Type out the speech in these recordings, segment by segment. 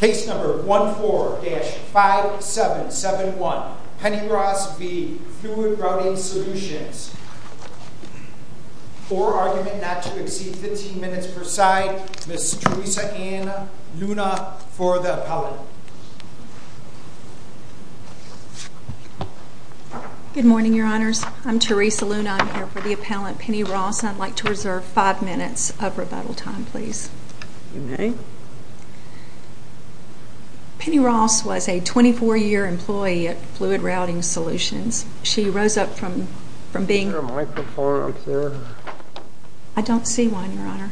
Case number 14-5771, Penny Ross v. Fluid Routing Solutions. For argument not to exceed 15 minutes per side, Ms. Teresa Ann Luna for the appellant. Good morning, your honors. I'm Teresa Luna. I'm here for the appellant, Penny Ross. I'd like to reserve five minutes of rebuttal time, please. Penny Ross was a 24-year employee at Fluid Routing Solutions. She rose up from being... Is there a microphone up there? I don't see one, your honor.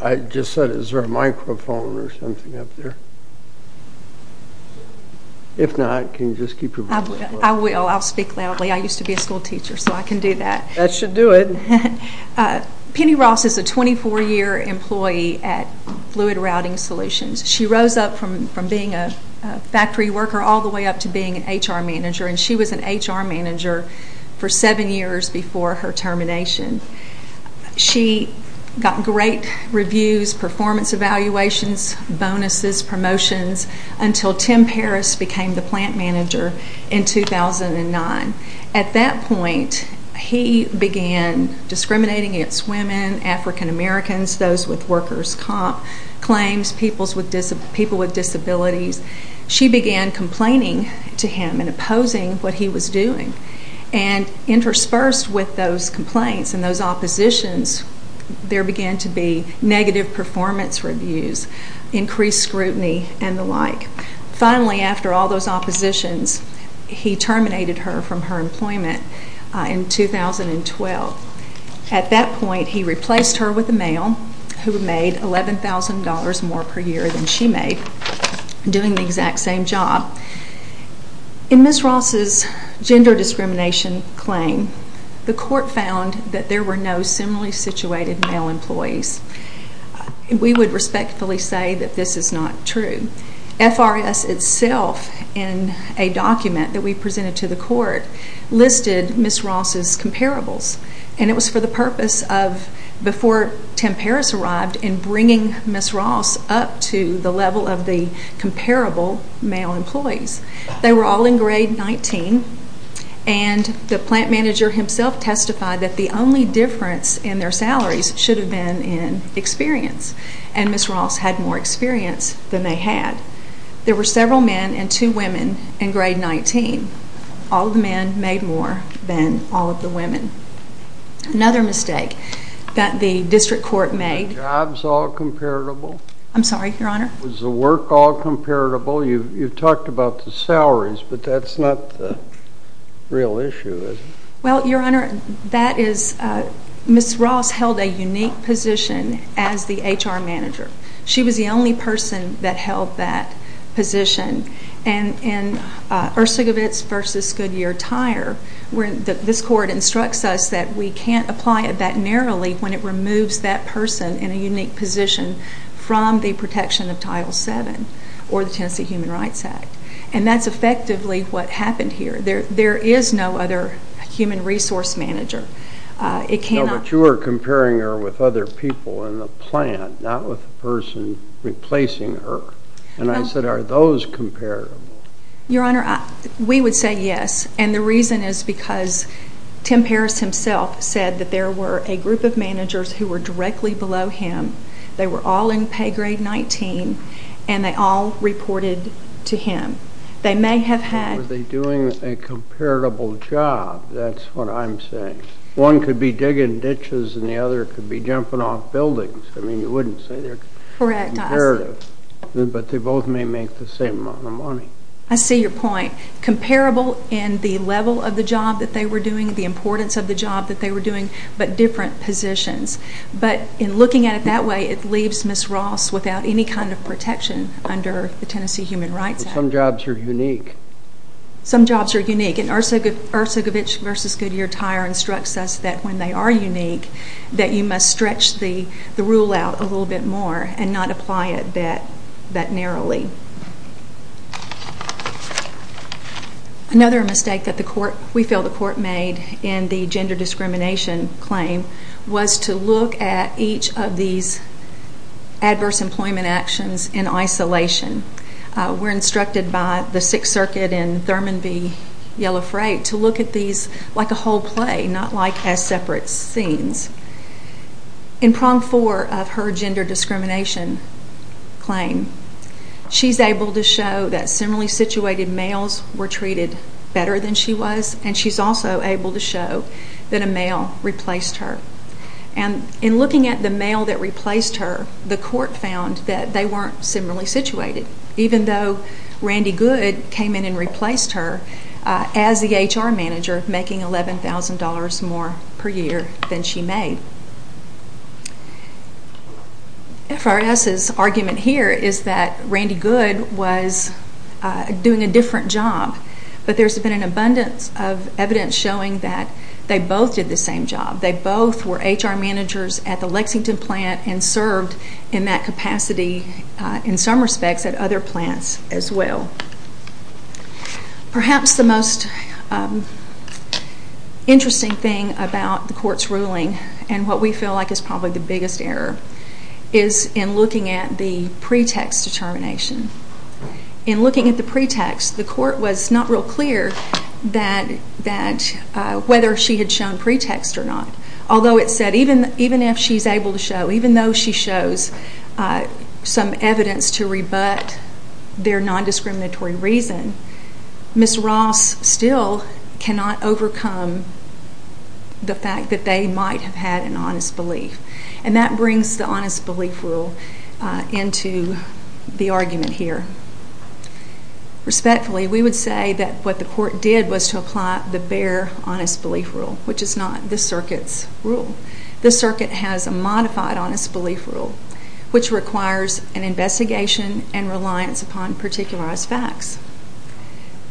I just said, is there a microphone or something up there? If not, can you just keep your voice low? I will. I'll speak loudly. I used to be a school teacher, so I can do that. That should do it. Penny Ross is a 24-year employee at Fluid Routing Solutions. She rose up from being a factory worker all the way up to being an HR manager, and she was an HR manager for seven years before her termination. She got great reviews, performance evaluations, bonuses, promotions, until Tim Paris became the plant manager in 2009. At that point, he began discriminating against women, African Americans, those with workers' comp claims, people with disabilities. She began complaining to him and opposing what he was doing. And interspersed with those complaints and those oppositions, there began to be negative performance reviews, increased scrutiny, and the like. Finally, after all those oppositions, he terminated her from her employment in 2012. At that point, he replaced her with a male who made $11,000 more per year than she made, doing the exact same job. In Ms. Ross's gender discrimination claim, the court found that there were no similarly situated male employees. We would respectfully say that this is not true. FRS itself, in a document that we presented to the court, listed Ms. Ross's comparables, and it was for the purpose of, before Tim Paris arrived, in bringing Ms. Ross up to the level of the comparable male employees. They were all in grade 19, and the plant manager himself testified that the only difference in their salaries should have been in experience, and Ms. Ross had more experience than they had. There were several men and two women in grade 19. All the men made more than all of the women. Another mistake that the district court made... Were the jobs all comparable? I'm sorry, Your Honor? Was the work all comparable? You've talked about the salaries, but that's not the real issue, is it? Well, Your Honor, Ms. Ross held a unique position as the HR manager. She was the only person that held that position. In Ursugowitz v. Goodyear Tire, this court instructs us that we can't apply it that narrowly when it removes that person in a unique position from the protection of Title VII or the Tennessee Human Rights Act. And that's effectively what happened here. There is no other human resource manager. But you were comparing her with other people in the plant, not with the person replacing her. And I said, Are those comparable? Your Honor, we would say yes, and the reason is because Tim Paris himself said that there were a group of managers who were directly below him. They were all in pay grade 19, and they all reported to him. They may have had... Were they doing a comparable job? That's what I'm saying. One could be digging ditches, and the other could be jumping off buildings. I mean, you wouldn't say they're comparative. But they both may make the same amount of money. I see your point. Comparable in the level of the job that they were doing, the importance of the job that they were doing, but different positions. But in looking at it that way, it leaves Ms. Ross without any kind of protection under the Tennessee Human Rights Act. Some jobs are unique. Some jobs are unique. And Ursugowitz v. Goodyear Tire instructs us that when they are unique, that you must stretch the rule out a little bit more and not apply it that narrowly. Another mistake that we feel the court made in the gender discrimination claim was to look at each of these adverse employment actions in isolation. We're instructed by the Sixth Circuit in Thurman v. Yellow Freight to look at these like a whole play, not like as separate scenes. In prong four of her gender discrimination claim, she's able to show that similarly situated males were treated better than she was, and she's also able to show that a male replaced her. And in looking at the male that replaced her, the court found that they weren't similarly situated, even though Randy Good came in and replaced her as the HR manager, making $11,000 more per year than she made. FRS's argument here is that Randy Good was doing a different job, but there's been an abundance of evidence showing that they both did the same job. They both were HR managers at the Lexington plant and served in that capacity in some respects at other plants as well. Perhaps the most interesting thing about the court's ruling and what we feel like is probably the biggest error is in looking at the pretext determination. In looking at the pretext, the court was not real clear whether she had shown pretext or not, although it said even if she's able to show, even though she shows some evidence to rebut their nondiscriminatory reason, Ms. Ross still cannot overcome the fact that they might have had an honest belief. And that brings the honest belief rule into the argument here. Respectfully, we would say that what the court did was to apply the bare honest belief rule, which is not this circuit's rule. This circuit has a modified honest belief rule, which requires an investigation and reliance upon particularized facts.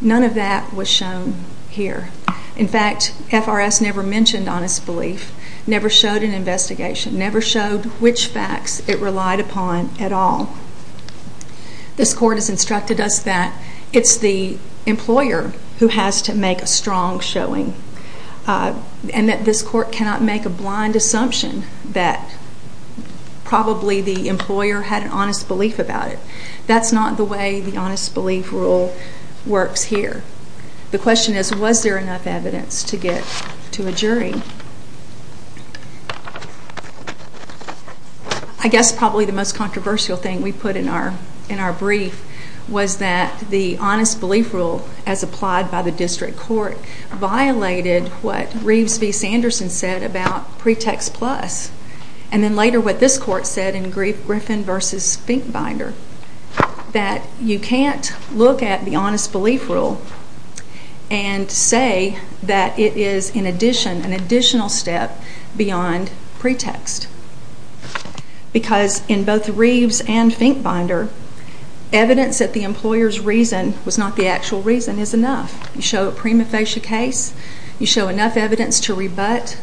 None of that was shown here. In fact, FRS never mentioned honest belief, never showed an investigation, never showed which facts it relied upon at all. This court has instructed us that it's the employer who has to make a strong showing and that this court cannot make a blind assumption that probably the employer had an honest belief about it. That's not the way the honest belief rule works here. The question is, was there enough evidence to get to a jury? I guess probably the most controversial thing we put in our brief was that the honest belief rule as applied by the district court violated what Reeves v. Sanderson said about Pretext Plus and then later what this court said in Griffin v. Finkbinder, that you can't look at the honest belief rule and say that it is an additional step beyond Pretext. Because in both Reeves and Finkbinder, evidence that the employer's reason was not the actual reason is enough. You show a prima facie case, you show enough evidence to rebut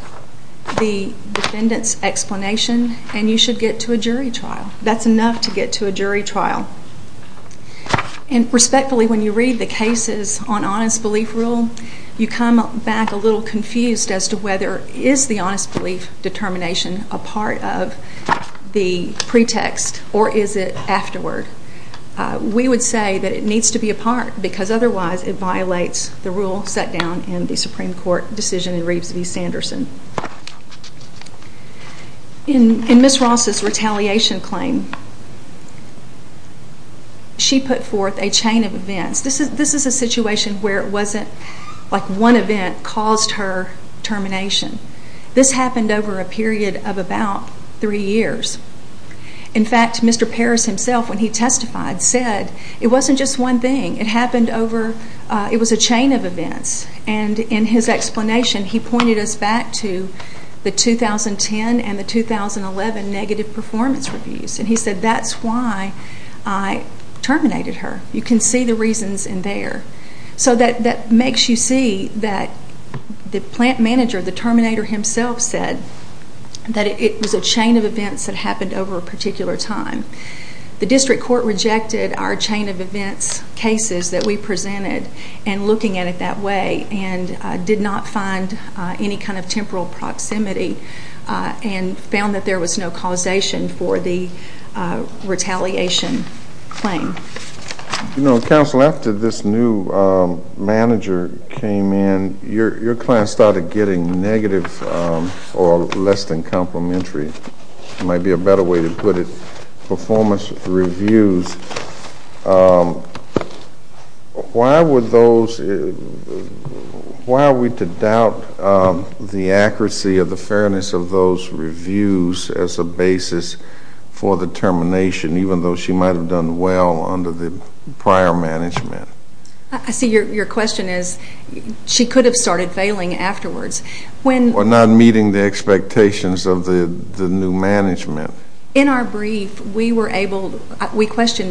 the defendant's explanation, and you should get to a jury trial. That's enough to get to a jury trial. Respectfully, when you read the cases on honest belief rule, you come back a little confused as to whether is the honest belief determination a part of the pretext or is it afterward. We would say that it needs to be a part because otherwise it violates the rule set down in the Supreme Court decision in Reeves v. Sanderson. In Ms. Ross's retaliation claim, she put forth a chain of events. This is a situation where it wasn't like one event caused her termination. This happened over a period of about three years. In fact, Mr. Parris himself, when he testified, said it wasn't just one thing. It was a chain of events. In his explanation, he pointed us back to the 2010 and the 2011 negative performance reviews. He said, that's why I terminated her. You can see the reasons in there. That makes you see that the plant manager, the terminator himself, said that it was a chain of events that happened over a particular time. The district court rejected our chain of events cases that we presented and looking at it that way and did not find any kind of temporal proximity and found that there was no causation for the retaliation claim. Counsel, after this new manager came in, your client started getting negative or less than complimentary. There might be a better way to put it. Performance reviews. Why are we to doubt the accuracy or the fairness of those reviews as a basis for the termination, even though she might have done well under the prior management? I see your question as she could have started failing afterwards. Or not meeting the expectations of the new management. In our brief, we questioned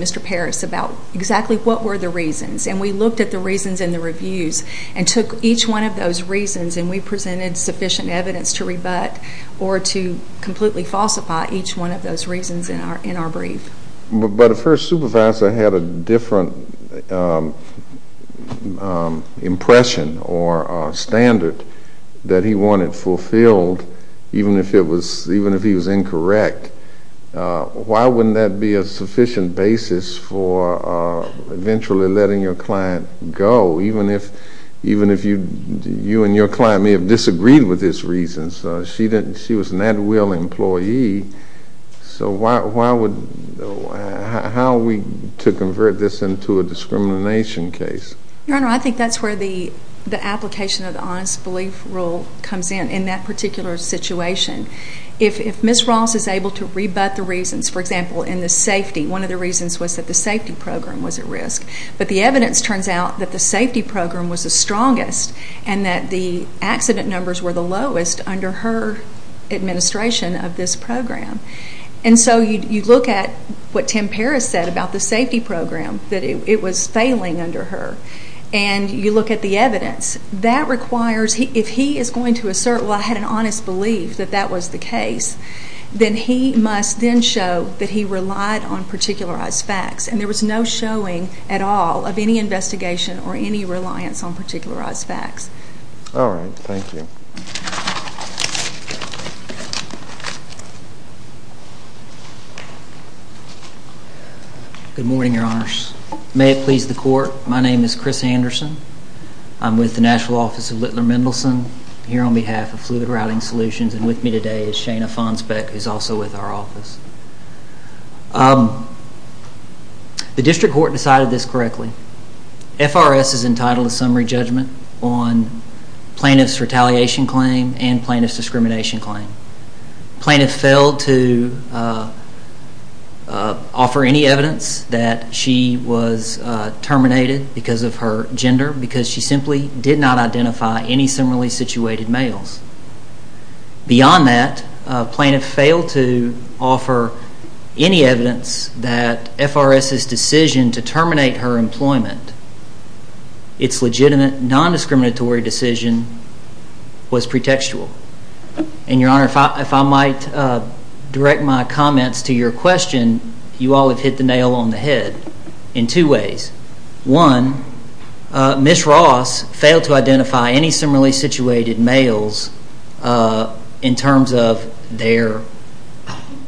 Mr. Parris about exactly what were the reasons, and we looked at the reasons in the reviews and took each one of those reasons and we presented sufficient evidence to rebut or to completely falsify each one of those reasons in our brief. But if her supervisor had a different impression or standard that he wanted fulfilled, even if he was incorrect, why wouldn't that be a sufficient basis for eventually letting your client go, even if you and your client may have disagreed with this reason? Because she was an at-will employee. So how are we to convert this into a discrimination case? Your Honor, I think that's where the application of the honest belief rule comes in, in that particular situation. If Ms. Ross is able to rebut the reasons, for example, in the safety, one of the reasons was that the safety program was at risk. But the evidence turns out that the safety program was the strongest and that the accident numbers were the lowest under her administration of this program. And so you look at what Tim Parris said about the safety program, that it was failing under her. And you look at the evidence. If he is going to assert, well, I had an honest belief that that was the case, then he must then show that he relied on particularized facts. And there was no showing at all of any investigation or any reliance on particularized facts. All right. Thank you. Good morning, Your Honors. May it please the Court, my name is Chris Anderson. I'm with the National Office of Littler Mendelson, here on behalf of Fluid Routing Solutions. And with me today is Shana Fonsbeck, who is also with our office. The district court decided this correctly. FRS is entitled to summary judgment on plaintiff's retaliation claim and plaintiff's discrimination claim. Plaintiff failed to offer any evidence that she was terminated because of her gender because she simply did not identify any similarly situated males. Beyond that, plaintiff failed to offer any evidence that FRS's decision to terminate her employment, its legitimate non-discriminatory decision, was pretextual. And, Your Honor, if I might direct my comments to your question, you all have hit the nail on the head in two ways. One, Ms. Ross failed to identify any similarly situated males in terms of their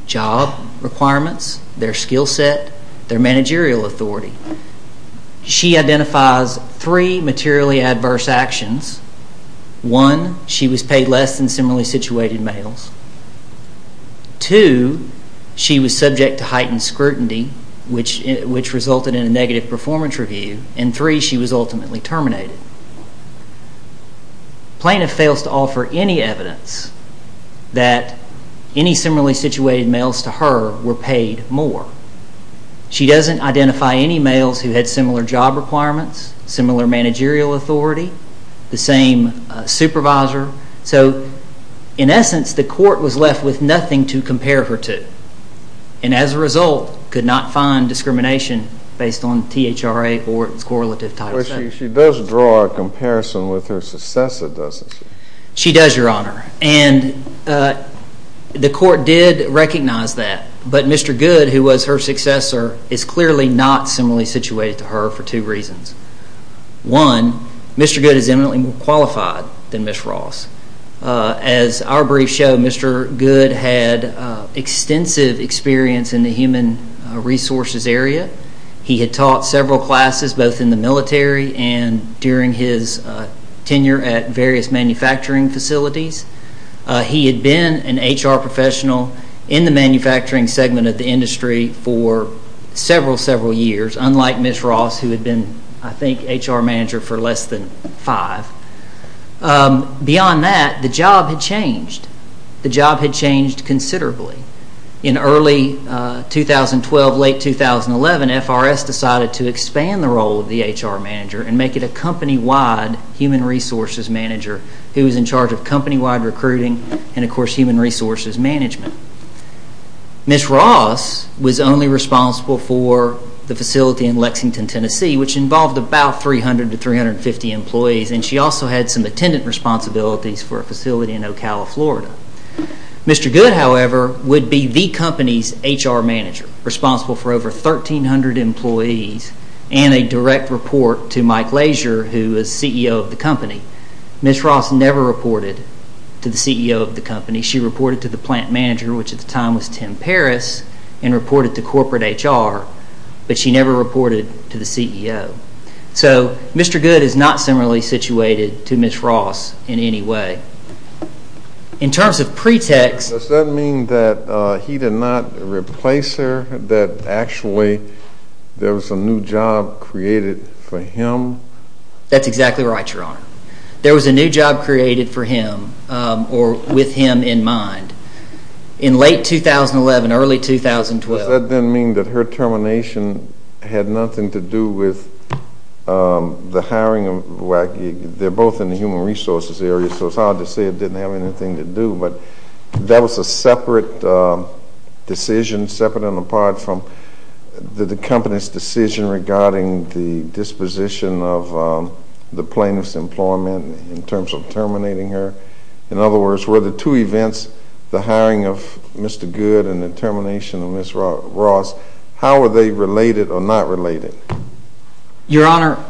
job requirements, their skill set, their managerial authority. She identifies three materially adverse actions. One, she was paid less than similarly situated males. Two, she was subject to heightened scrutiny, which resulted in a negative performance review. And three, she was ultimately terminated. Plaintiff fails to offer any evidence that any similarly situated males to her were paid more. She doesn't identify any males who had similar job requirements, similar managerial authority, the same supervisor. So, in essence, the court was left with nothing to compare her to and, as a result, could not find discrimination based on THRA or its correlative title. She does draw a comparison with her successor, doesn't she? She does, Your Honor, and the court did recognize that. But Mr. Goode, who was her successor, is clearly not similarly situated to her for two reasons. One, Mr. Goode is eminently more qualified than Ms. Ross. As our briefs show, Mr. Goode had extensive experience in the human resources area. He had taught several classes, both in the military and during his tenure at various manufacturing facilities. He had been an HR professional in the manufacturing segment of the industry for several, several years, unlike Ms. Ross, who had been, I think, HR manager for less than five. Beyond that, the job had changed considerably. In early 2012, late 2011, FRS decided to expand the role of the HR manager and make it a company-wide human resources manager who was in charge of company-wide recruiting and, of course, human resources management. Ms. Ross was only responsible for the facility in Lexington, Tennessee, which involved about 300 to 350 employees, and she also had some attendant responsibilities for a facility in Ocala, Florida. Mr. Goode, however, would be the company's HR manager, responsible for over 1,300 employees and a direct report to Mike Lazier, who was CEO of the company. She reported to the plant manager, which at the time was Tim Parris, and reported to corporate HR, but she never reported to the CEO. So Mr. Goode is not similarly situated to Ms. Ross in any way. In terms of pretext— Does that mean that he did not replace her, that actually there was a new job created for him? That's exactly right, Your Honor. There was a new job created for him or with him in mind in late 2011, early 2012. Does that then mean that her termination had nothing to do with the hiring of WAC? They're both in the human resources area, so it's hard to say it didn't have anything to do, but that was a separate decision, separate and apart from the company's decision regarding the disposition of the plaintiff's employment in terms of terminating her. In other words, were the two events, the hiring of Mr. Goode and the termination of Ms. Ross, how were they related or not related? Your Honor,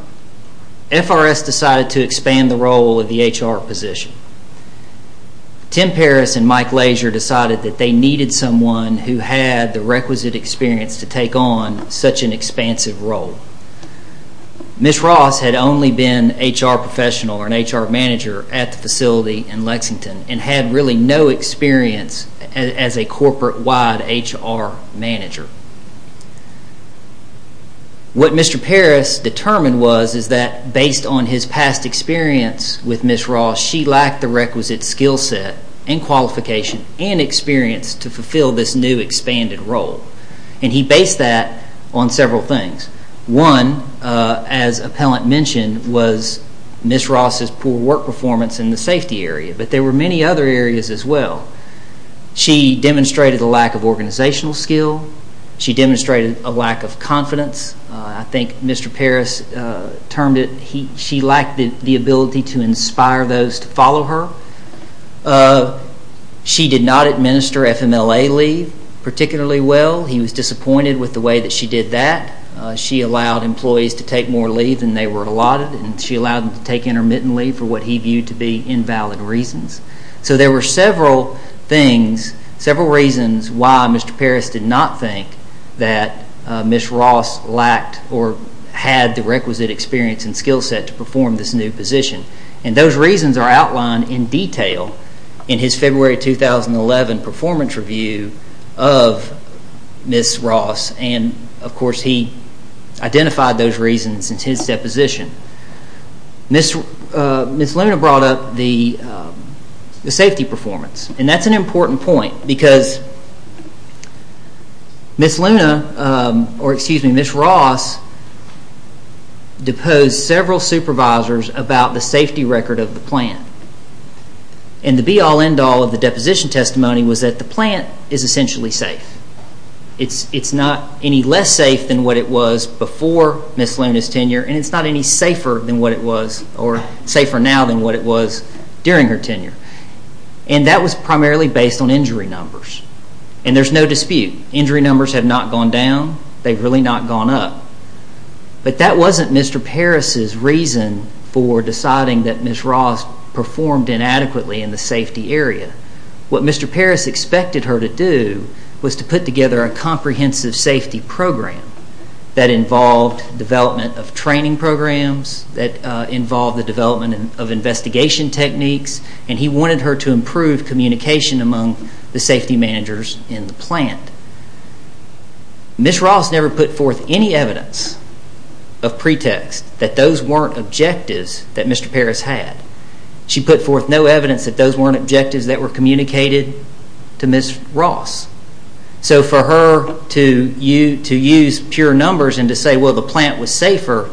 FRS decided to expand the role of the HR position. Tim Parris and Mike Lazier decided that they needed someone who had the requisite experience to take on such an expansive role. Ms. Ross had only been an HR professional or an HR manager at the facility in Lexington and had really no experience as a corporate-wide HR manager. What Mr. Parris determined was that based on his past experience with Ms. Ross, she lacked the requisite skill set and qualification and experience to fulfill this new expanded role. He based that on several things. One, as Appellant mentioned, was Ms. Ross's poor work performance in the safety area, but there were many other areas as well. She demonstrated a lack of organizational skill. She demonstrated a lack of confidence. I think Mr. Parris termed it she lacked the ability to inspire those to follow her. She did not administer FMLA leave particularly well. He was disappointed with the way that she did that. She allowed employees to take more leave than they were allotted and she allowed them to take intermittent leave for what he viewed to be invalid reasons. There were several reasons why Mr. Parris did not think that Ms. Ross lacked or had the requisite experience and skill set to perform this new position. Those reasons are outlined in detail in his February 2011 performance review of Ms. Ross. Of course, he identified those reasons in his deposition. Ms. Luna brought up the safety performance and that's an important point because Ms. Ross deposed several supervisors about the safety record of the plant. The be all end all of the deposition testimony was that the plant is essentially safe. It's not any less safe than what it was before Ms. Luna's tenure and it's not any safer now than what it was during her tenure. That was primarily based on injury numbers and there's no dispute. Injury numbers have not gone down. They've really not gone up. But that wasn't Mr. Parris's reason for deciding that Ms. Ross performed inadequately in the safety area. What Mr. Parris expected her to do was to put together a comprehensive safety program that involved development of training programs, that involved the development of investigation techniques, and he wanted her to improve communication among the safety managers in the plant. Ms. Ross never put forth any evidence of pretext that those weren't objectives that Mr. Parris had. She put forth no evidence that those weren't objectives that were communicated to Ms. Ross. So for her to use pure numbers and to say, well, the plant was safer,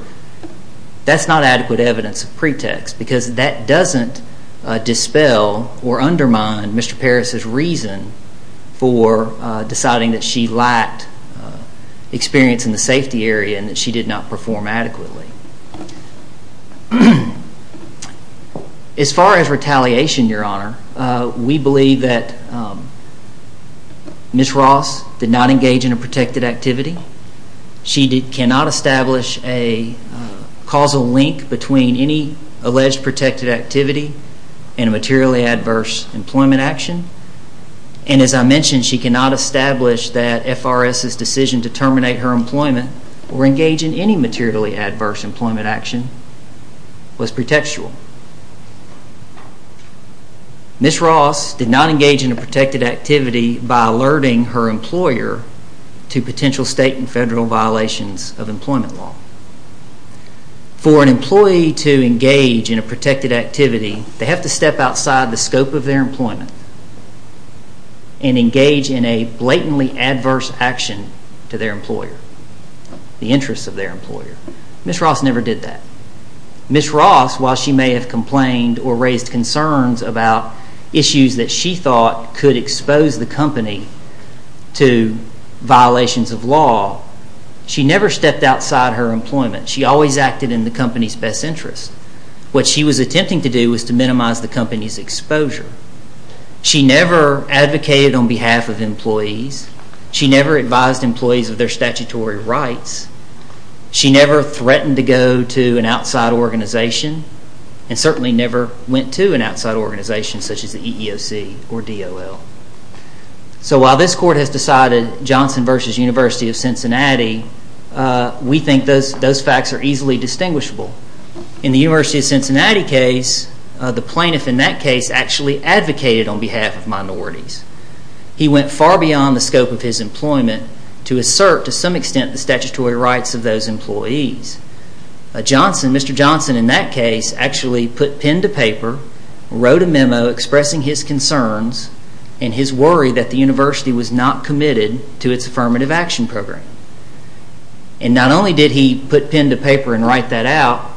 that's not adequate evidence of pretext because that doesn't dispel or undermine Mr. Parris's reason for deciding that she lacked experience in the safety area and that she did not perform adequately. As far as retaliation, Your Honor, we believe that Ms. Ross did not engage in a protected activity. She cannot establish a causal link between any alleged protected activity and a materially adverse employment action. And as I mentioned, she cannot establish that FRS's decision to terminate her employment or engage in any materially adverse employment action was pretextual. Ms. Ross did not engage in a protected activity by alerting her employer to potential state and federal violations of employment law. For an employee to engage in a protected activity, they have to step outside the scope of their employment and engage in a blatantly adverse action to their employer, the interests of their employer. Ms. Ross never did that. Ms. Ross, while she may have complained or raised concerns about issues that she thought could expose the company to violations of law, she never stepped outside her employment. She always acted in the company's best interest. What she was attempting to do was to minimize the company's exposure. She never advocated on behalf of employees. She never advised employees of their statutory rights. She never threatened to go to an outside organization and certainly never went to an outside organization such as the EEOC or DOL. So while this Court has decided Johnson v. University of Cincinnati, we think those facts are easily distinguishable. In the University of Cincinnati case, the plaintiff in that case actually advocated on behalf of minorities. He went far beyond the scope of his employment to assert to some extent the statutory rights of those employees. Mr. Johnson in that case actually put pen to paper, wrote a memo expressing his concerns and his worry that the university was not committed to its affirmative action program. And not only did he put pen to paper and write that out,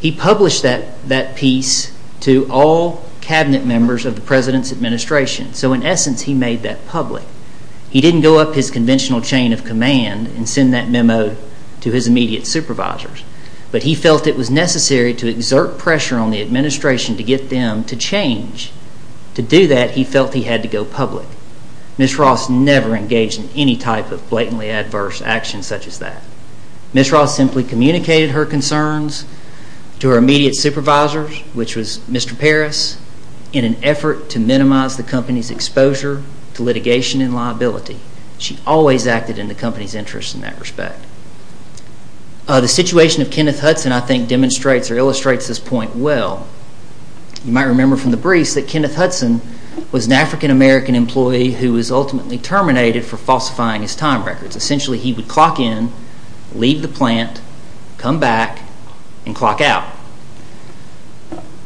he published that piece to all cabinet members of the president's administration. So in essence, he made that public. He didn't go up his conventional chain of command and send that memo to his immediate supervisors. But he felt it was necessary to exert pressure on the administration to get them to change. To do that, he felt he had to go public. Ms. Ross never engaged in any type of blatantly adverse action such as that. Ms. Ross simply communicated her concerns to her immediate supervisors, which was Mr. Parris, in an effort to minimize the company's exposure to litigation and liability. She always acted in the company's interest in that respect. The situation of Kenneth Hudson, I think, demonstrates or illustrates this point well. You might remember from the briefs that Kenneth Hudson was an African-American employee who was ultimately terminated for falsifying his time records. Essentially, he would clock in, leave the plant, come back, and clock out.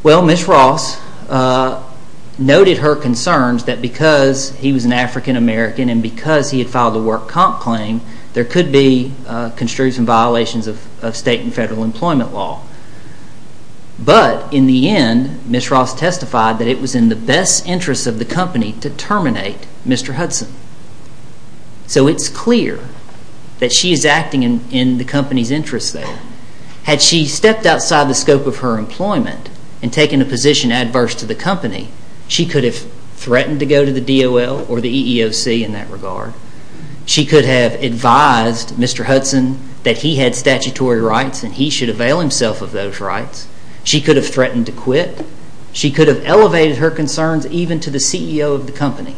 Well, Ms. Ross noted her concerns that because he was an African-American and because he had filed a work comp claim, there could be construction violations of state and federal employment law. But in the end, Ms. Ross testified that it was in the best interest of the company to terminate Mr. Hudson. So it's clear that she is acting in the company's interest there. Had she stepped outside the scope of her employment and taken a position adverse to the company, she could have threatened to go to the DOL or the EEOC in that regard. She could have advised Mr. Hudson that he had statutory rights and he should avail himself of those rights. She could have threatened to quit. She could have elevated her concerns even to the CEO of the company.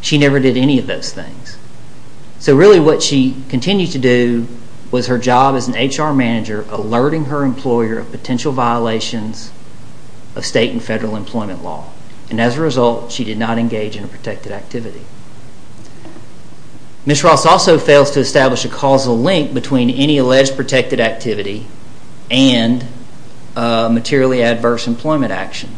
She never did any of those things. So really what she continued to do was her job as an HR manager, alerting her employer of potential violations of state and federal employment law. And as a result, she did not engage in a protected activity. Ms. Ross also fails to establish a causal link between any alleged protected activity and materially adverse employment action.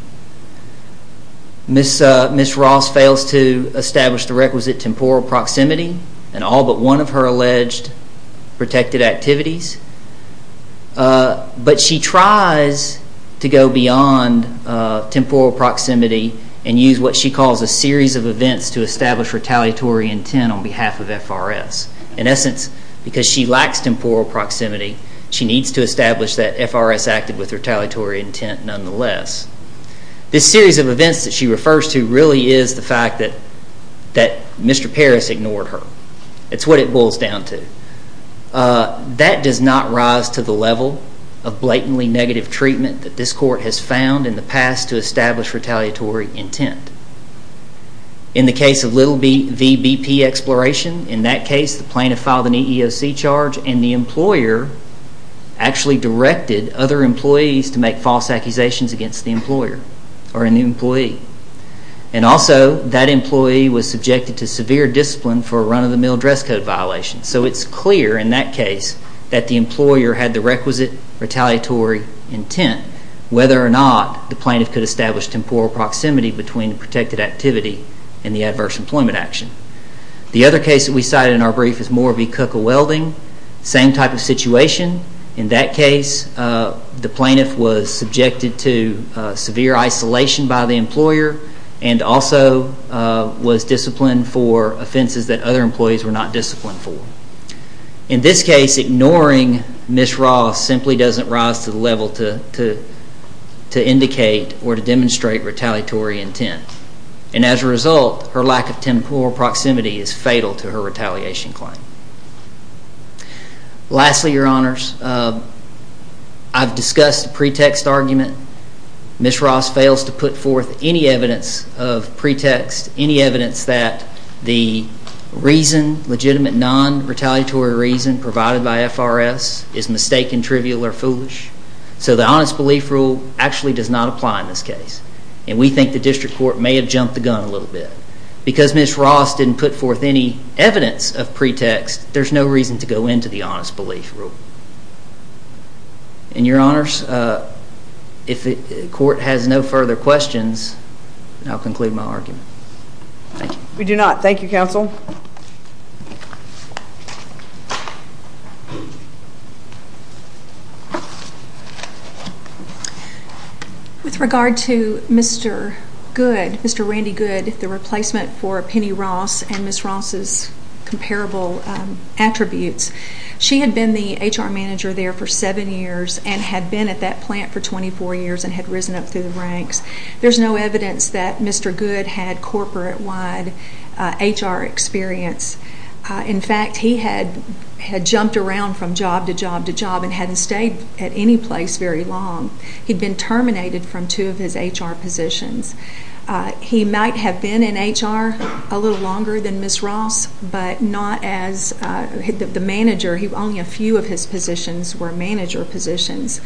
Ms. Ross fails to establish the requisite temporal proximity in all but one of her alleged protected activities. But she tries to go beyond temporal proximity and use what she calls a series of events to establish retaliatory intent on behalf of FRS. In essence, because she lacks temporal proximity, she needs to establish that FRS acted with retaliatory intent nonetheless. This series of events that she refers to really is the fact that Mr. Paris ignored her. It's what it boils down to. That does not rise to the level of blatantly negative treatment that this court has found in the past to establish retaliatory intent. In the case of Little v. BP Exploration, in that case the plaintiff filed an EEOC charge and the employer actually directed other employees to make false accusations against the employer or an employee. And also that employee was subjected to severe discipline for a run-of-the-mill dress code violation. So it's clear in that case that the employer had the requisite retaliatory intent whether or not the plaintiff could establish temporal proximity between protected activity and the adverse employment action. The other case that we cited in our brief is Moore v. Cook of Welding. Same type of situation. In that case, the plaintiff was subjected to severe isolation by the employer and also was disciplined for offenses that other employees were not disciplined for. In this case, ignoring Ms. Ross simply doesn't rise to the level to indicate or to demonstrate retaliatory intent. And as a result, her lack of temporal proximity is fatal to her retaliation claim. Lastly, Your Honors, I've discussed the pretext argument. Ms. Ross fails to put forth any evidence of pretext, any evidence that the reason, legitimate non-retaliatory reason, provided by FRS is mistaken, trivial, or foolish. So the Honest Belief Rule actually does not apply in this case. And we think the District Court may have jumped the gun a little bit. Because Ms. Ross didn't put forth any evidence of pretext, there's no reason to go into the Honest Belief Rule. And Your Honors, if the Court has no further questions, I'll conclude my argument. Thank you. We do not. Thank you, Counsel. With regard to Mr. Good, Mr. Randy Good, the replacement for Penny Ross and Ms. Ross's comparable attributes, she had been the HR manager there for seven years and had been at that plant for 24 years and had risen up through the ranks. There's no evidence that Mr. Good had corporate-wide HR experience. In fact, he had jumped around from job to job to job and hadn't stayed at any place very long. He'd been terminated from two of his HR positions. He might have been in HR a little longer than Ms. Ross, but not as the manager. Only a few of his positions were manager positions.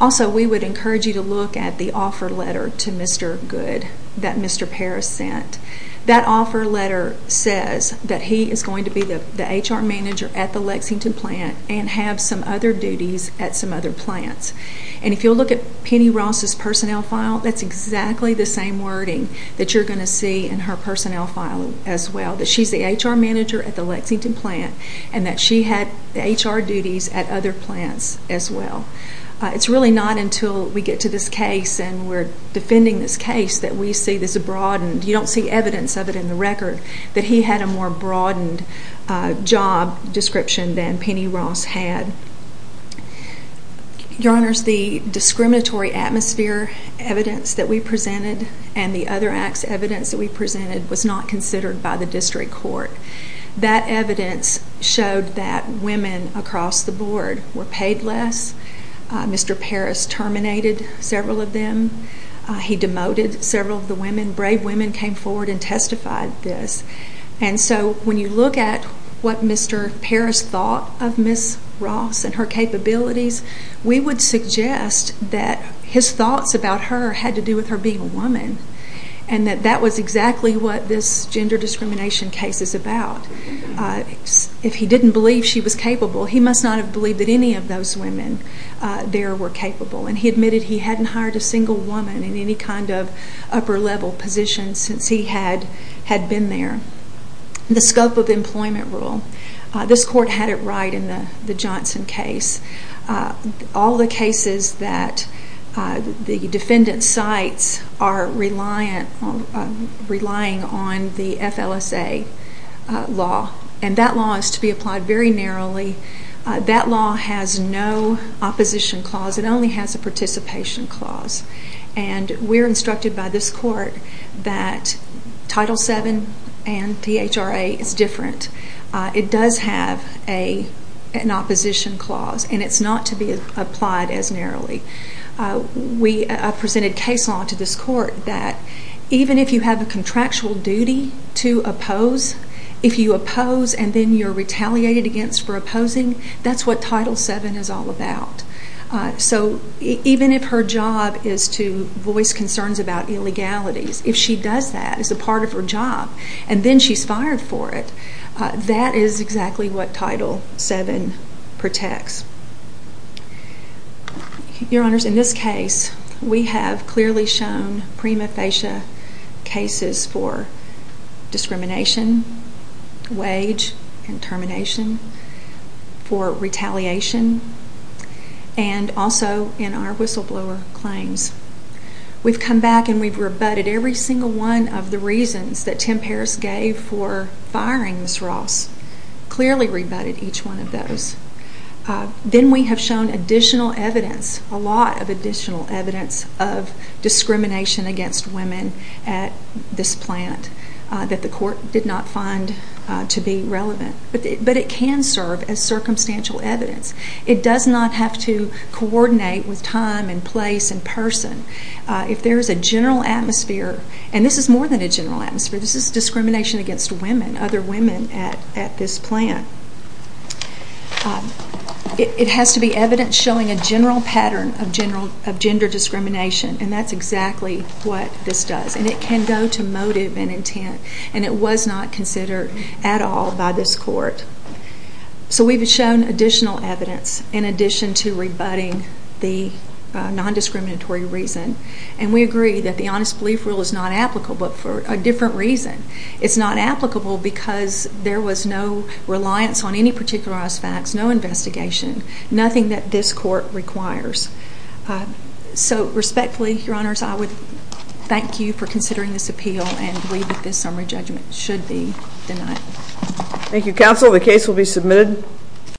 Also, we would encourage you to look at the offer letter to Mr. Good that Mr. Parris sent. That offer letter says that he is going to be the HR manager at the Lexington plant and have some other duties at some other plants. And if you'll look at Penny Ross's personnel file, that's exactly the same wording that you're going to see in her personnel file as well, that she's the HR manager at the Lexington plant and that she had HR duties at other plants as well. It's really not until we get to this case and we're defending this case that we see this broadened. You don't see evidence of it in the record that he had a more broadened job description than Penny Ross had. Your Honors, the discriminatory atmosphere evidence that we presented and the other acts evidence that we presented was not considered by the district court. That evidence showed that women across the board were paid less. Mr. Parris terminated several of them. He demoted several of the women. Brave women came forward and testified this. And so when you look at what Mr. Parris thought of Ms. Ross and her capabilities, we would suggest that his thoughts about her had to do with her being a woman and that that was exactly what this gender discrimination case is about. If he didn't believe she was capable, he must not have believed that any of those women there were capable. And he admitted he hadn't hired a single woman in any kind of upper level position since he had been there. The scope of employment rule. This court had it right in the Johnson case. All the cases that the defendant cites are relying on the FLSA law. And that law is to be applied very narrowly. That law has no opposition clause. It only has a participation clause. And we're instructed by this court that Title VII and THRA is different. It does have an opposition clause. And it's not to be applied as narrowly. I presented case law to this court that even if you have a contractual duty to oppose, if you oppose and then you're retaliated against for opposing, that's what Title VII is all about. So even if her job is to voice concerns about illegalities, if she does that as a part of her job and then she's fired for it, that is exactly what Title VII protects. Your Honors, in this case, we have clearly shown prima facie cases for discrimination, wage and termination, for retaliation, and also in our whistleblower claims. We've come back and we've rebutted every single one of the reasons that Tim Paris gave for firing Ms. Ross, clearly rebutted each one of those. Then we have shown additional evidence, a lot of additional evidence of discrimination against women at this plant that the court did not find to be relevant. But it can serve as circumstantial evidence. It does not have to coordinate with time and place and person. If there is a general atmosphere, and this is more than a general atmosphere, this is discrimination against women, other women at this plant. It has to be evidence showing a general pattern of gender discrimination, and that's exactly what this does. And it can go to motive and intent, and it was not considered at all by this court. So we've shown additional evidence in addition to rebutting the non-discriminatory reason, and we agree that the Honest Belief Rule is not applicable, but for a different reason. It's not applicable because there was no reliance on any particularized facts, no investigation, nothing that this court requires. So respectfully, Your Honors, I would thank you for considering this appeal and believe that this summary judgment should be denied. Thank you, counsel. The case will be submitted.